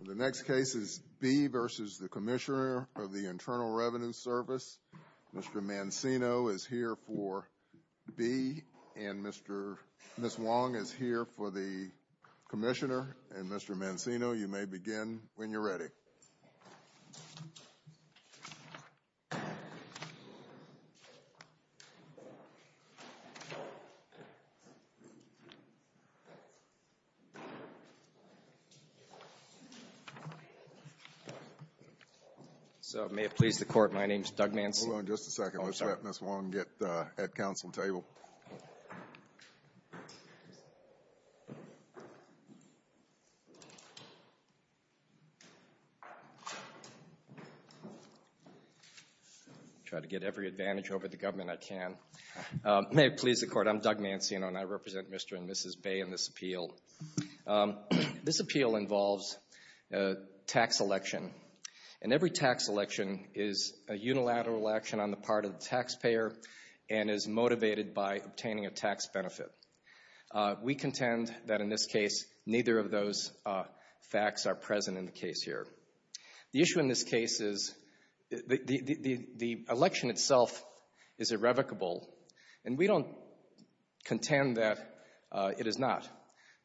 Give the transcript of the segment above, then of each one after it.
The next case is Bea v. Commissioner Internal Revenue Mr. Mancino is here for Bea and Ms. Wong is here for the Commissioner. Mr. Mancino, you may begin when you are ready. So, may it please the Court, my name is Doug Mancino. Hold on just a second, let's let Ms. Wong get at Council table. I try to get every advantage over the government I can. May it please the Court, I'm Doug Mancino and I represent Mr. and Mrs. Bea in this appeal. This appeal involves a tax election and every tax election is a unilateral action on the part of the taxpayer and is motivated by obtaining a tax benefit. We contend that in this case neither of those facts are present in the case here. The issue in this case is the election itself is irrevocable and we don't contend that it is not.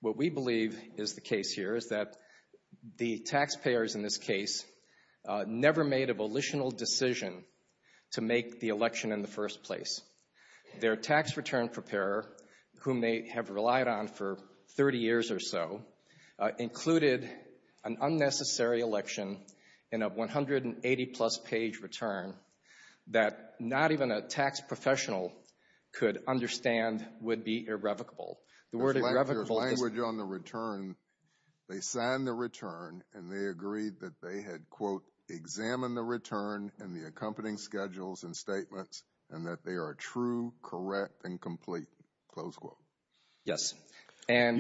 What we believe is the case here is that the taxpayers in this case never made a volitional decision to make the election in the first place. Their tax return preparer, whom they have relied on for 30 years or so, included an unnecessary election in a 180-plus page return that not even a tax professional could understand would be irrevocable. There's language on the return. They signed the return and they agreed that they had, quote, examined the return and the accompanying schedules and statements and that they are true, correct and complete, close quote. Yes. Let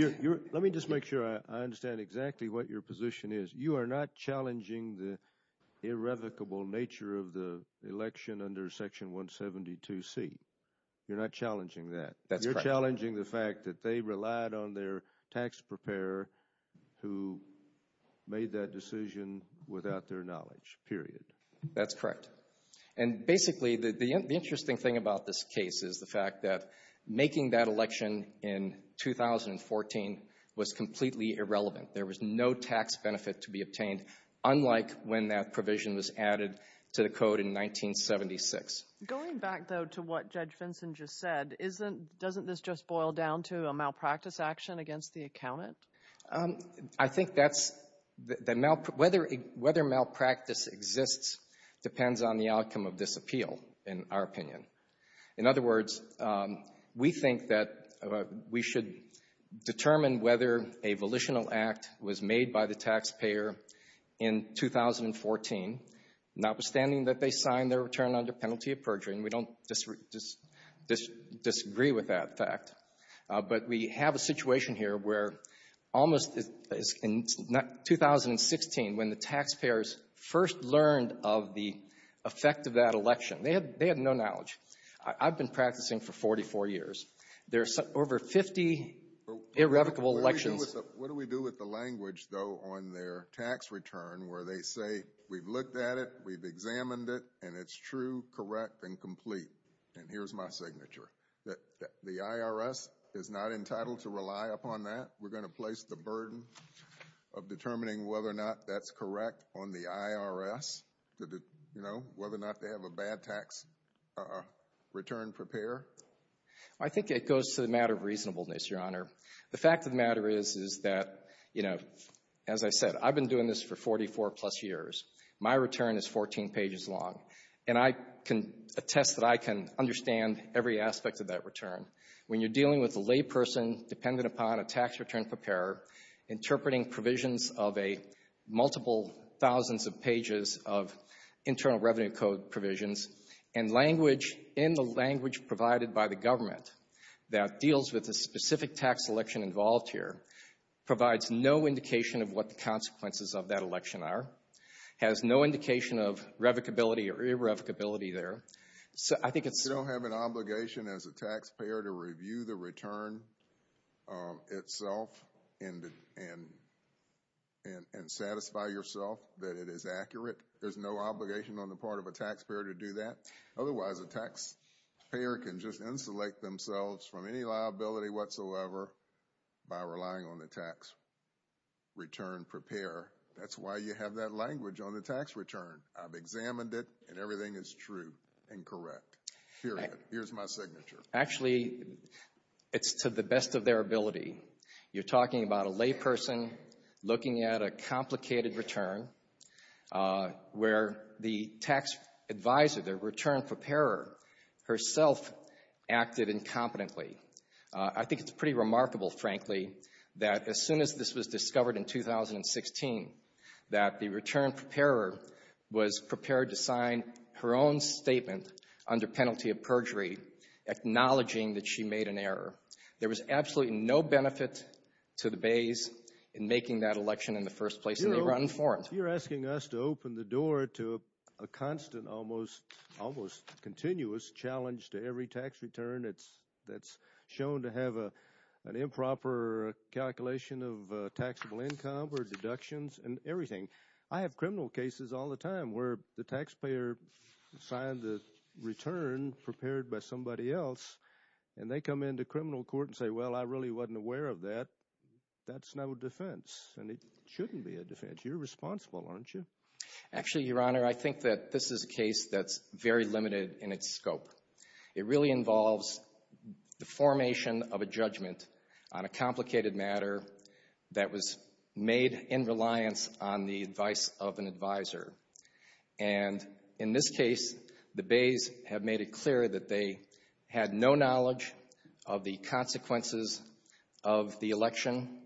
me just make sure I understand exactly what your position is. You are not challenging the irrevocable nature of the election under Section 172C. You're not challenging that. That's correct. You're not challenging the fact that they relied on their tax preparer who made that decision without their knowledge, period. That's correct. And basically the interesting thing about this case is the fact that making that election in 2014 was completely irrelevant. There was no tax benefit to be obtained, unlike when that provision was added to the code in 1976. Going back, though, to what Judge Vinson just said, isn't, doesn't this just boil down to a malpractice action against the accountant? I think that's, whether malpractice exists depends on the outcome of this appeal, in our opinion. In other words, we think that we should determine whether a volitional act was made by the taxpayer in 2014, notwithstanding that they signed their return under penalty of perjury, and we don't disagree with that fact. But we have a situation here where almost, in 2016, when the taxpayers first learned of the effect of that election, they had no knowledge. I've been practicing for 44 years. There are over 50 irrevocable elections. What do we do with the language, though, on their tax return where they say, we've looked at it, we've examined it, and it's true, correct, and complete, and here's my signature, that the IRS is not entitled to rely upon that? We're going to place the burden of determining whether or not that's correct on the IRS, you know, whether or not they have a bad tax return prepared? I think it goes to the matter of reasonableness, Your Honor. The fact of the matter is, is that, you know, as I said, I've been doing this for 44-plus years. My return is 14 pages long, and I can attest that I can understand every aspect of that return. When you're dealing with a layperson dependent upon a tax return preparer, interpreting provisions of a multiple thousands of pages of Internal Revenue Code provisions, and language in the language provided by the government that deals with the specific tax election involved here, provides no indication of what the consequences of that election are, has no indication of revocability or irrevocability there. I think it's... You don't have an obligation as a taxpayer to review the return itself and satisfy yourself that it is accurate? There's no obligation on the part of a taxpayer to do that? Otherwise, a taxpayer can just insulate themselves from any liability whatsoever by relying on the tax return preparer. That's why you have that language on the tax return. I've examined it, and everything is true and correct. Period. Here's my signature. Actually, it's to the best of their ability. You're talking about a layperson looking at a complicated return where the tax advisor, the return preparer, herself acted incompetently. I think it's pretty remarkable, frankly, that as soon as this was discovered in 2016, that the return preparer was prepared to sign her own statement under penalty of perjury acknowledging that she made an error. There was absolutely no benefit to the bays in making that election in the first place, and they were uninformed. You're asking us to open the door to a constant, almost continuous challenge to every tax return that's shown to have an improper calculation of taxable income or deductions and everything. I have criminal cases all the time where the taxpayer signed the return prepared by somebody else, and they come into criminal court and say, well, I really wasn't aware of that. That's no defense, and it shouldn't be a defense. You're responsible, aren't you? Actually, Your Honor, I think that this is a case that's very limited in its scope. It really involves the formation of a judgment on a complicated matter that was made in reliance on the advice of an advisor. And in this case, the bays have made it clear that they had no knowledge of the consequences of the election.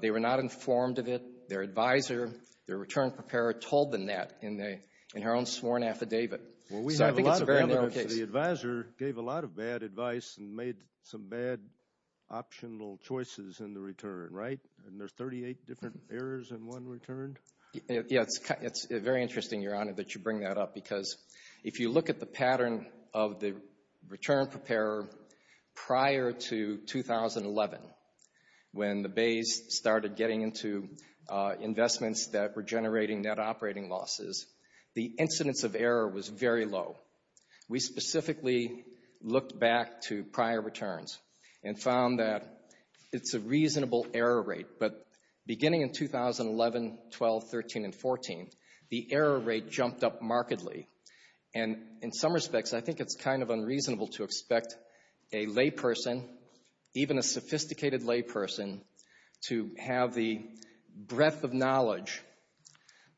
They were not informed of it. Their advisor, their return preparer, told them that in their own sworn affidavit. Well, we have a lot of evidence that the advisor gave a lot of bad advice and made some bad optional choices in the return, right? And there's 38 different errors in one return? Yeah, it's very interesting, Your Honor, that you bring that up, because if you look at the pattern of the return preparer prior to 2011 when the bays started getting into investments that were generating net operating losses, the incidence of error was very low. We specifically looked back to prior returns and found that it's a reasonable error rate. But beginning in 2011, 12, 13, and 14, the error rate jumped up markedly. And in some respects, I think it's kind of unreasonable to expect a layperson, even a sophisticated layperson, to have the breadth of knowledge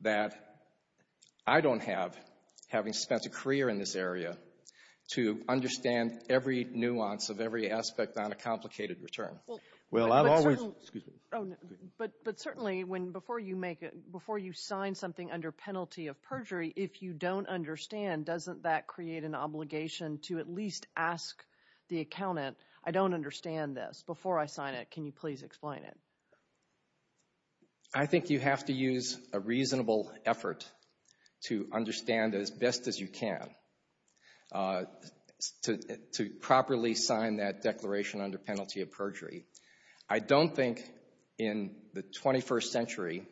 that I don't have, having spent a career in this area, to understand every nuance of every aspect on a complicated return. Well, I've always— But certainly, before you sign something under penalty of perjury, if you don't understand, doesn't that create an obligation to at least ask the accountant, I don't understand this. Before I sign it, can you please explain it? I think you have to use a reasonable effort to understand it as best as you can to properly sign that declaration under penalty of perjury. I don't think in the 21st century,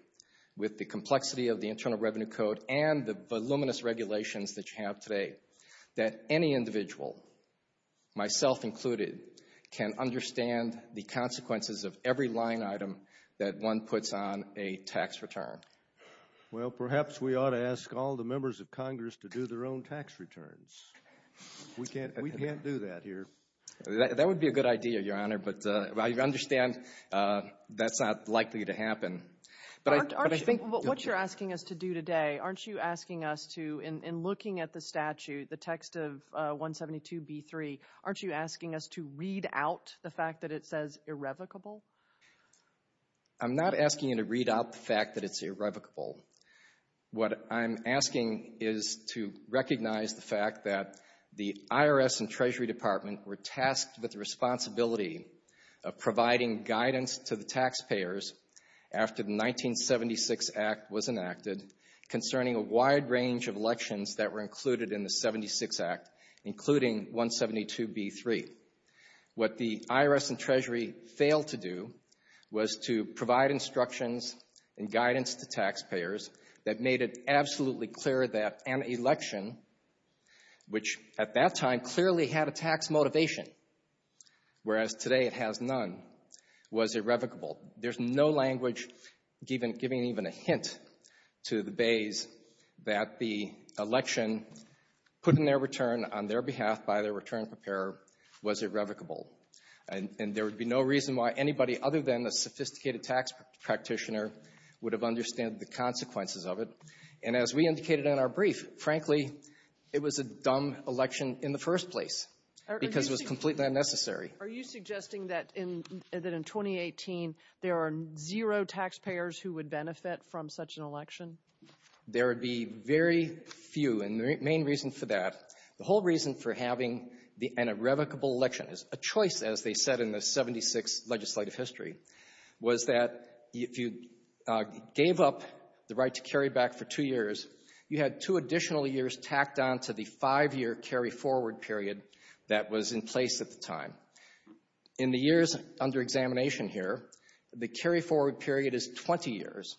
with the complexity of the Internal Revenue Code and the voluminous regulations that you have today, that any individual, myself included, can understand the consequences of every line item that one puts on a tax return. Well, perhaps we ought to ask all the members of Congress to do their own tax returns. We can't do that here. That would be a good idea, Your Honor, but I understand that's not likely to happen. What you're asking us to do today, aren't you asking us to, in looking at the statute, the text of 172b3, aren't you asking us to read out the fact that it says irrevocable? I'm not asking you to read out the fact that it's irrevocable. What I'm asking is to recognize the fact that the IRS and Treasury Department were tasked with the responsibility of providing guidance to the taxpayers after the 1976 Act was enacted concerning a wide range of elections that were included in the 76 Act, including 172b3. What the IRS and Treasury failed to do was to provide instructions and guidance to taxpayers that made it absolutely clear that an election, which at that time clearly had a tax motivation, whereas today it has none, was irrevocable. There's no language giving even a hint to the bays that the election, putting their return on their behalf by their return preparer, was irrevocable. And there would be no reason why anybody other than a sophisticated tax practitioner would have understood the consequences of it. And as we indicated in our brief, frankly, it was a dumb election in the first place because it was completely unnecessary. Are you suggesting that in 2018 there are zero taxpayers who would benefit from such an election? There would be very few. And the main reason for that, the whole reason for having the irrevocable election as a choice, as they said in the 76 legislative history, was that if you gave up the right to carry back for two years, you had two additional years tacked on to the five-year carry-forward period that was in place at the time. In the years under examination here, the carry-forward period is 20 years.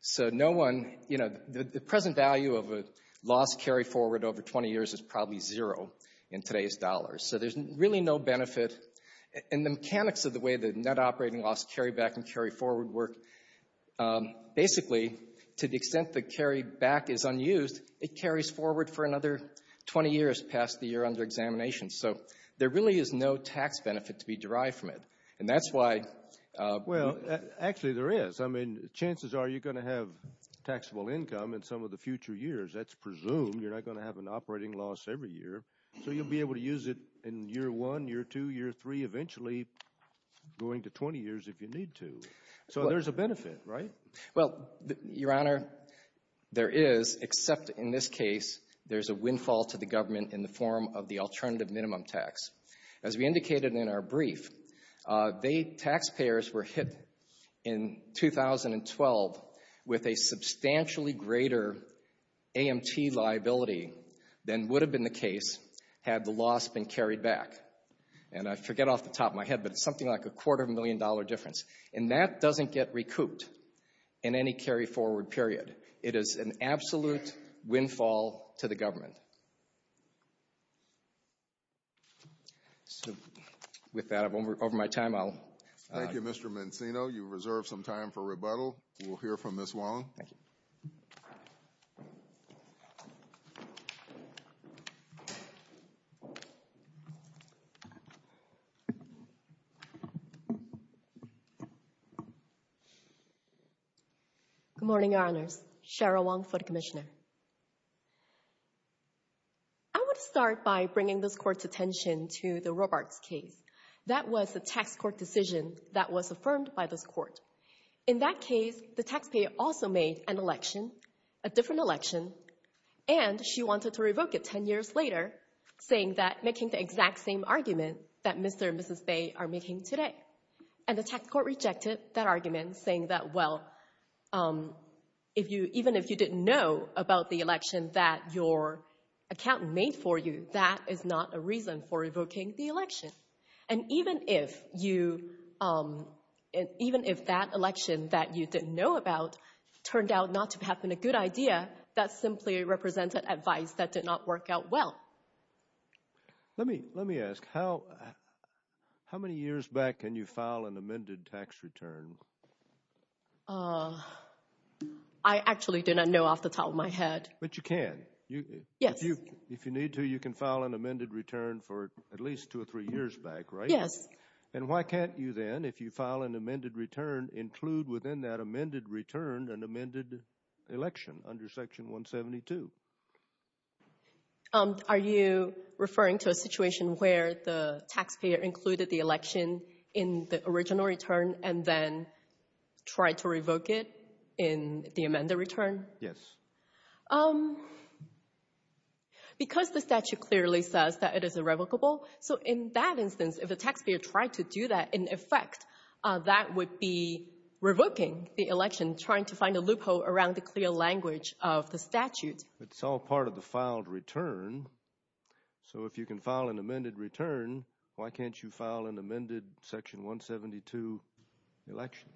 So no one, you know, the present value of a lost carry-forward over 20 years is probably zero in today's dollars. So there's really no benefit. And the mechanics of the way the net operating loss carry-back and carry-forward work, basically, to the extent the carry-back is unused, it carries forward for another 20 years past the year under examination. So there really is no tax benefit to be derived from it. And that's why— Well, actually there is. I mean, chances are you're going to have taxable income in some of the future years. That's presumed. You're not going to have an operating loss every year. So you'll be able to use it in year one, year two, year three, eventually going to 20 years if you need to. So there's a benefit, right? Well, Your Honor, there is, except in this case there's a windfall to the government in the form of the alternative minimum tax. As we indicated in our brief, taxpayers were hit in 2012 with a substantially greater AMT liability than would have been the case had the loss been carried back. And I forget off the top of my head, but it's something like a quarter-million-dollar difference. And that doesn't get recouped in any carry-forward period. It is an absolute windfall to the government. So with that, over my time, I'll— Thank you, Mr. Mancino. You've reserved some time for rebuttal. We'll hear from Ms. Wong. Thank you. Good morning, Your Honors. Cheryl Wong for the Commissioner. I would start by bringing this Court's attention to the Robarts case. That was a tax court decision that was affirmed by this Court. In that case, the taxpayer also made an election, a different election, and she wanted to revoke it 10 years later, saying that—making the exact same argument that Mr. and Mrs. Bay are making today. And the tax court rejected that argument, saying that, well, even if you didn't know about the election that your accountant made for you, that is not a reason for revoking the election. And even if that election that you didn't know about turned out not to have been a good idea, that simply represented advice that did not work out well. Let me ask, how many years back can you file an amended tax return? I actually did not know off the top of my head. But you can. Yes. If you need to, you can file an amended return for at least two or three years back, right? Yes. And why can't you then, if you file an amended return, include within that amended return an amended election under Section 172? Are you referring to a situation where the taxpayer included the election in the original return and then tried to revoke it in the amended return? Yes. Because the statute clearly says that it is irrevocable. So in that instance, if a taxpayer tried to do that, in effect, that would be revoking the election, trying to find a loophole around the clear language of the statute. It's all part of the filed return. So if you can file an amended return, why can't you file an amended Section 172 election?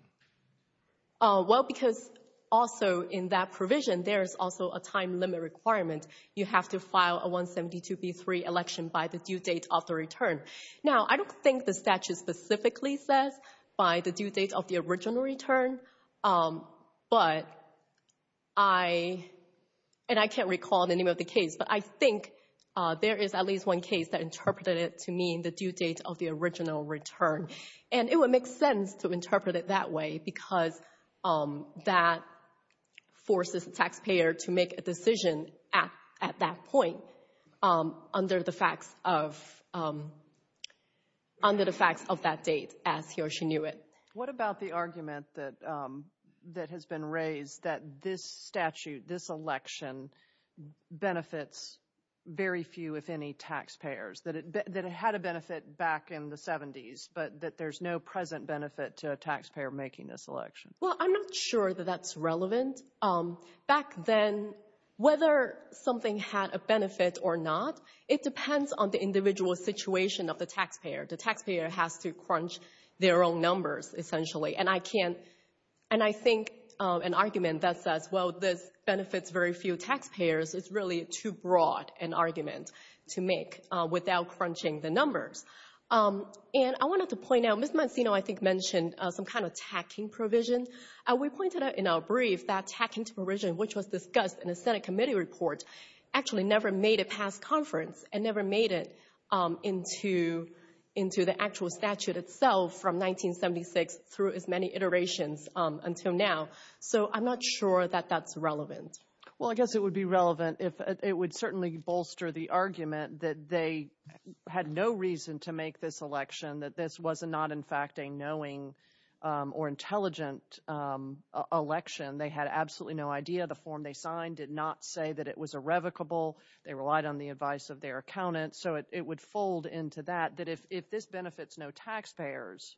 Well, because also in that provision, there is also a time limit requirement. You have to file a 172b3 election by the due date of the return. Now, I don't think the statute specifically says by the due date of the original return. But I, and I can't recall the name of the case, but I think there is at least one case that interpreted it to mean the due date of the original return. And it would make sense to interpret it that way because that forces the taxpayer to make a decision at that point under the facts of that date as he or she knew it. What about the argument that has been raised that this statute, this election, benefits very few, if any, taxpayers? That it had a benefit back in the 70s, but that there's no present benefit to a taxpayer making this election. Well, I'm not sure that that's relevant. Back then, whether something had a benefit or not, it depends on the individual situation of the taxpayer. The taxpayer has to crunch their own numbers, essentially. And I can't, and I think an argument that says, well, this benefits very few taxpayers is really too broad an argument to make without crunching the numbers. And I wanted to point out, Ms. Mancino, I think, mentioned some kind of tacking provision. We pointed out in our brief that tacking provision, which was discussed in the Senate committee report, actually never made it past conference and never made it into the actual statute itself from 1976 through as many iterations until now. So I'm not sure that that's relevant. Well, I guess it would be relevant if it would certainly bolster the argument that they had no reason to make this election, that this was not, in fact, a knowing or intelligent election. They had absolutely no idea. The form they signed did not say that it was irrevocable. They relied on the advice of their accountants. So it would fold into that, that if this benefits no taxpayers.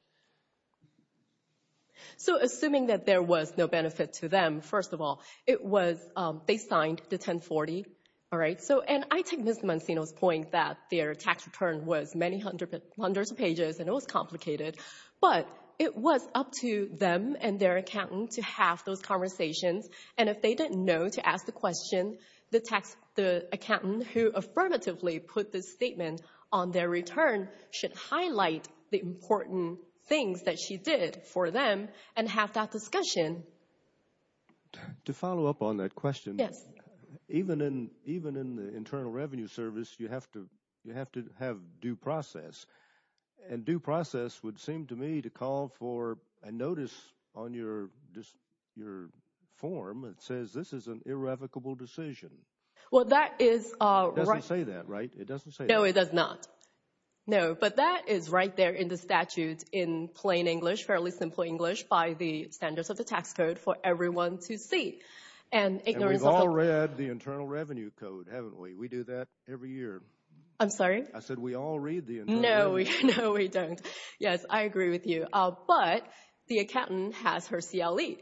So assuming that there was no benefit to them, first of all, it was, they signed the 1040. All right. So, and I take Ms. Mancino's point that their tax return was many hundreds of pages and it was complicated. But it was up to them and their accountant to have those conversations. And if they didn't know to ask the question, the accountant who affirmatively put this statement on their return should highlight the important things that she did for them and have that discussion. To follow up on that question. Yes. Even in the Internal Revenue Service, you have to have due process. And due process would seem to me to call for a notice on your form that says this is an irrevocable decision. Well, that is. It doesn't say that, right? It doesn't say that. No, it does not. No, but that is right there in the statute in plain English, fairly simple English, by the standards of the tax code for everyone to see. And we've all read the Internal Revenue Code, haven't we? We do that every year. I'm sorry? I said we all read the Internal Revenue Code. No, we don't. Yes, I agree with you. But the accountant has her CLEs,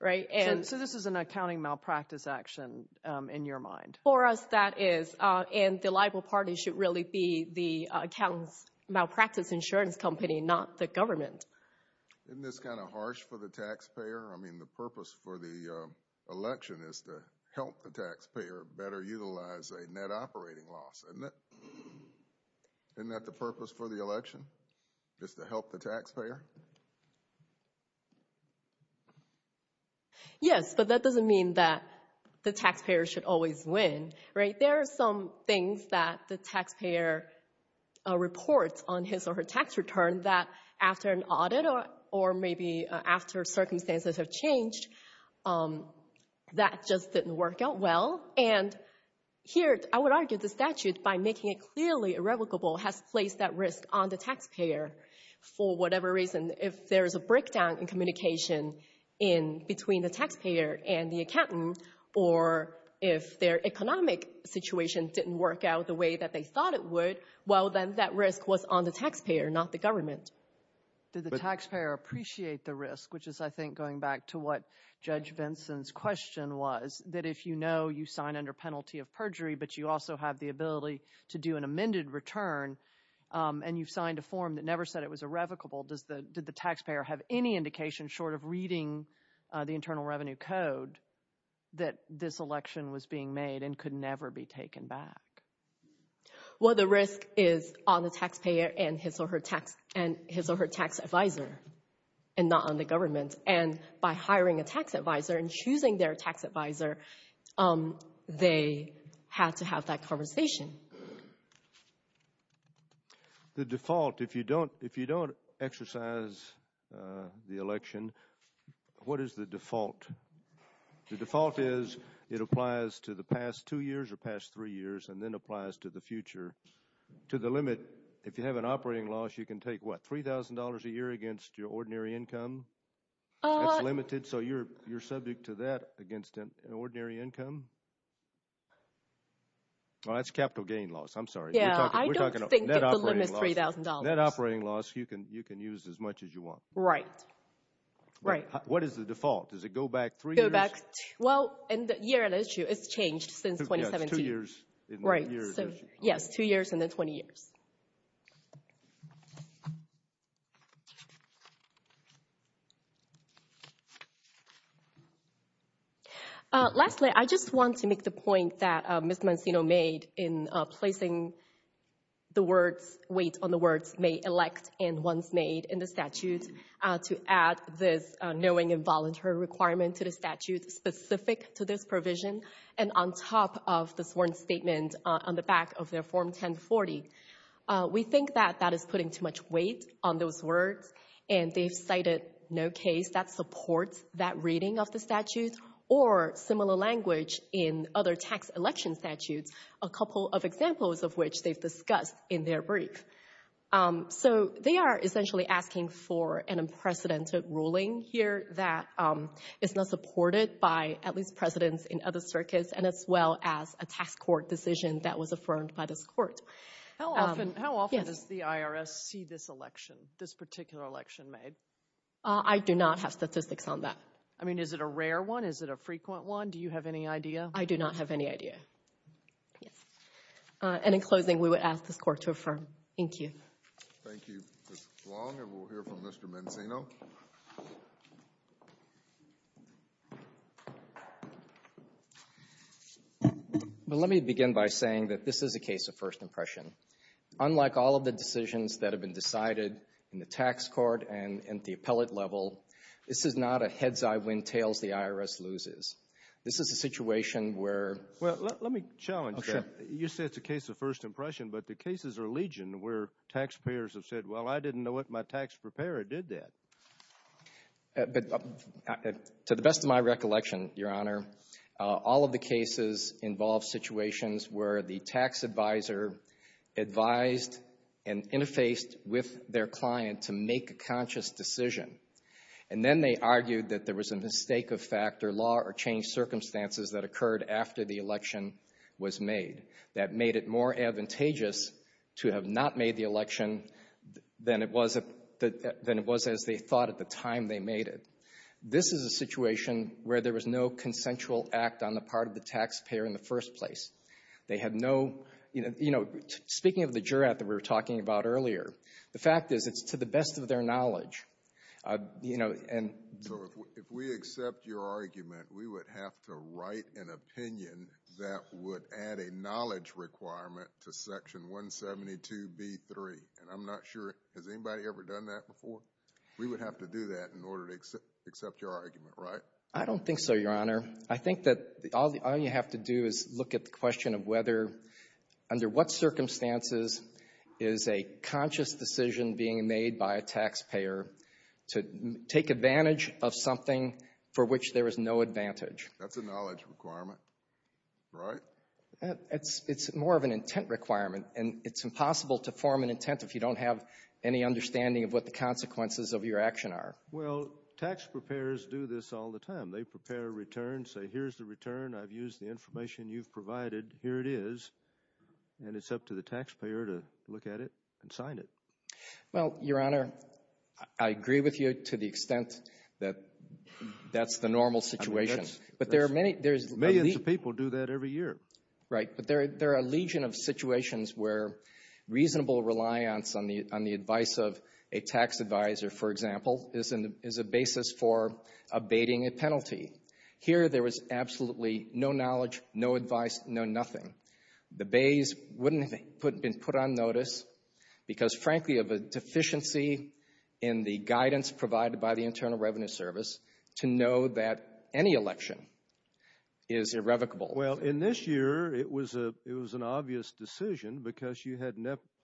right? So this is an accounting malpractice action in your mind? For us, that is. And the liable party should really be the accountant's malpractice insurance company, not the government. Isn't this kind of harsh for the taxpayer? I mean, the purpose for the election is to help the taxpayer better utilize a net operating loss. Isn't that the purpose for the election? Just to help the taxpayer? Yes, but that doesn't mean that the taxpayer should always win, right? There are some things that the taxpayer reports on his or her tax return that after an audit or maybe after circumstances have changed, that just didn't work out well. And here, I would argue the statute, by making it clearly irrevocable, has placed that risk on the taxpayer for whatever reason. If there is a breakdown in communication between the taxpayer and the accountant or if their economic situation didn't work out the way that they thought it would, well, then that risk was on the taxpayer, not the government. Did the taxpayer appreciate the risk, which is, I think, going back to what Judge Vinson's question was, that if you know you sign under penalty of perjury, but you also have the ability to do an amended return and you've signed a form that never said it was irrevocable, did the taxpayer have any indication, short of reading the Internal Revenue Code, that this election was being made and could never be taken back? Well, the risk is on the taxpayer and his or her tax advisor and not on the government. And by hiring a tax advisor and choosing their tax advisor, they had to have that conversation. The default, if you don't exercise the election, what is the default? The default is it applies to the past two years or past three years and then applies to the future. To the limit, if you have an operating loss, you can take, what, $3,000 a year against your ordinary income? That's limited, so you're subject to that against an ordinary income? Oh, that's capital gain loss, I'm sorry. Yeah, I don't think that the limit's $3,000. Net operating loss, you can use as much as you want. Right, right. What is the default? Does it go back three years? Correct. Well, in the year it issued, it's changed since 2017. Yes, two years in the year it issued. Yes, two years and then 20 years. Lastly, I just want to make the point that Ms. Mancino made in placing the words, weight on the words, may elect and once made in the statute to add this knowing involuntary requirement to the statute specific to this provision and on top of the sworn statement on the back of their Form 1040. We think that that is putting too much weight on those words, and they've cited no case that supports that reading of the statute or similar language in other tax election statutes, a couple of examples of which they've discussed in their brief. So they are essentially asking for an unprecedented ruling here that is not supported by at least presidents in other circuits and as well as a tax court decision that was affirmed by this court. How often does the IRS see this election, this particular election made? I do not have statistics on that. I mean, is it a rare one? Is it a frequent one? Do you have any idea? I do not have any idea. And in closing, we would ask this court to affirm. Thank you. Thank you, Ms. Long, and we'll hear from Mr. Mancino. Well, let me begin by saying that this is a case of first impression. Unlike all of the decisions that have been decided in the tax court and at the appellate level, this is not a heads-eye-wind-tails-the-IRS-loses. This is a situation where— Well, let me challenge that. You said it's a case of first impression, but the cases are legion where taxpayers have said, well, I didn't know what my tax preparer did that. But to the best of my recollection, Your Honor, all of the cases involve situations where the tax advisor advised and interfaced with their client to make a conscious decision, and then they argued that there was a mistake of fact or law or changed circumstances that occurred after the election was made that made it more advantageous to have not made the election than it was as they thought at the time they made it. This is a situation where there was no consensual act on the part of the taxpayer in the first place. They had no—you know, speaking of the jurat that we were talking about earlier, the fact is it's to the best of their knowledge. You know, and— So if we accept your argument, we would have to write an opinion that would add a knowledge requirement to Section 172b3. And I'm not sure—has anybody ever done that before? We would have to do that in order to accept your argument, right? I don't think so, Your Honor. I think that all you have to do is look at the question of whether— being made by a taxpayer to take advantage of something for which there is no advantage. That's a knowledge requirement, right? It's more of an intent requirement, and it's impossible to form an intent if you don't have any understanding of what the consequences of your action are. Well, tax preparers do this all the time. They prepare a return, say, here's the return. I've used the information you've provided. Here it is, and it's up to the taxpayer to look at it and sign it. Well, Your Honor, I agree with you to the extent that that's the normal situation. I mean, that's— But there are many— Millions of people do that every year. Right, but there are a legion of situations where reasonable reliance on the advice of a tax advisor, for example, is a basis for abating a penalty. Here, there was absolutely no knowledge, no advice, no nothing. The bays wouldn't have been put on notice because, frankly, of a deficiency in the guidance provided by the Internal Revenue Service to know that any election is irrevocable. Well, in this year, it was an obvious decision because you had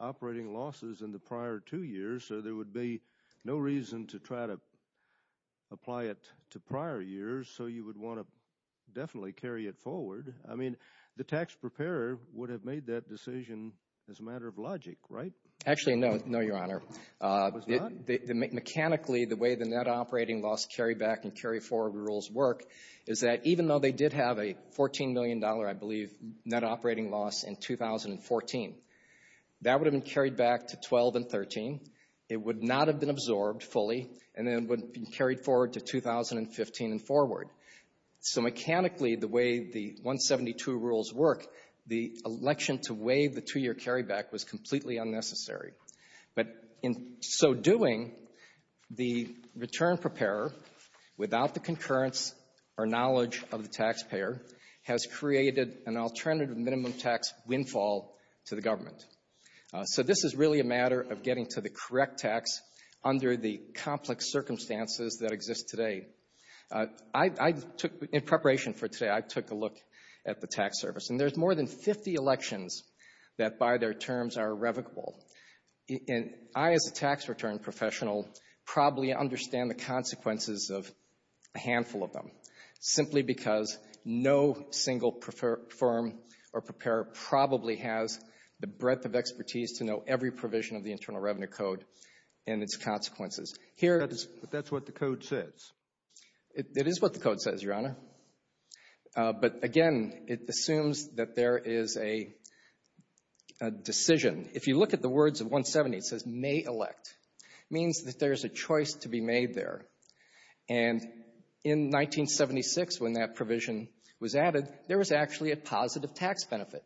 operating losses in the prior two years, so there would be no reason to try to apply it to prior years, so you would want to definitely carry it forward. I mean, the tax preparer would have made that decision as a matter of logic, right? Actually, no, Your Honor. It was not? Mechanically, the way the net operating loss carryback and carryforward rules work is that even though they did have a $14 million, I believe, net operating loss in 2014, that would have been carried back to 12 and 13. It would not have been absorbed fully, and then it would have been carried forward to 2015 and forward. So mechanically, the way the 172 rules work, the election to waive the two-year carryback was completely unnecessary. But in so doing, the return preparer, without the concurrence or knowledge of the taxpayer, has created an alternative minimum tax windfall to the government. So this is really a matter of getting to the correct tax under the complex circumstances that exist today. In preparation for today, I took a look at the tax service, and there's more than 50 elections that, by their terms, are irrevocable. I, as a tax return professional, probably understand the consequences of a handful of them simply because no single firm or preparer probably has the breadth of expertise to know every provision of the Internal Revenue Code and its consequences. But that's what the code says. It is what the code says, Your Honor. But again, it assumes that there is a decision. If you look at the words of 170, it says may elect. It means that there's a choice to be made there. And in 1976, when that provision was added, there was actually a positive tax benefit.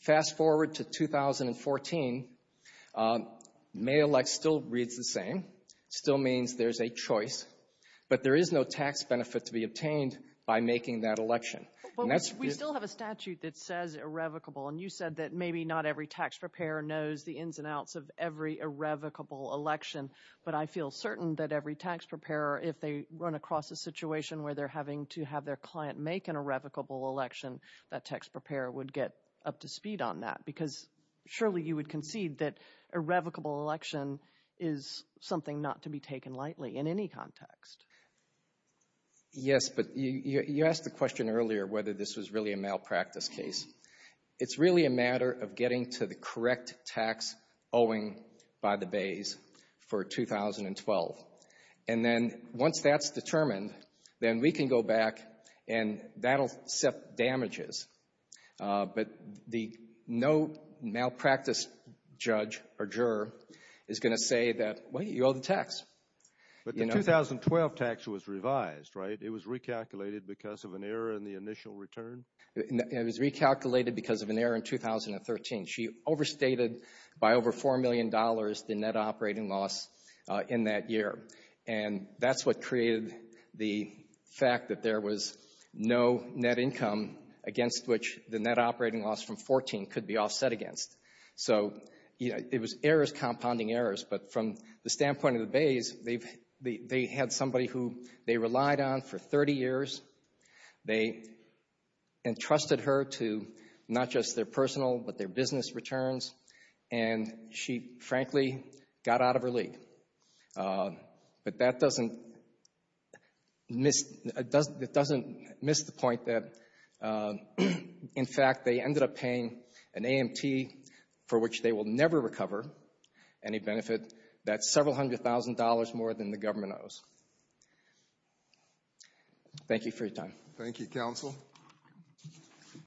Fast forward to 2014, may elect still reads the same. It still means there's a choice. But there is no tax benefit to be obtained by making that election. But we still have a statute that says irrevocable, and you said that maybe not every tax preparer knows the ins and outs of every irrevocable election. But I feel certain that every tax preparer, if they run across a situation where they're having to have their client make an irrevocable election, that tax preparer would get up to speed on that because surely you would concede that irrevocable election is something not to be taken lightly in any context. Yes, but you asked the question earlier whether this was really a malpractice case. It's really a matter of getting to the correct tax owing by the bays for 2012. And then once that's determined, then we can go back and that will set damages. But no malpractice judge or juror is going to say that, wait, you owe the tax. But the 2012 tax was revised, right? It was recalculated because of an error in the initial return? It was recalculated because of an error in 2013. She overstated by over $4 million the net operating loss in that year. And that's what created the fact that there was no net income against which the net operating loss from 2014 could be offset against. So it was errors compounding errors. But from the standpoint of the bays, they had somebody who they relied on for 30 years. They entrusted her to not just their personal but their business returns. And she, frankly, got out of her league. But that doesn't miss the point that, in fact, they ended up paying an AMT for which they will never recover any benefit. That's several hundred thousand dollars more than the government owes. Thank you for your time. Thank you, counsel.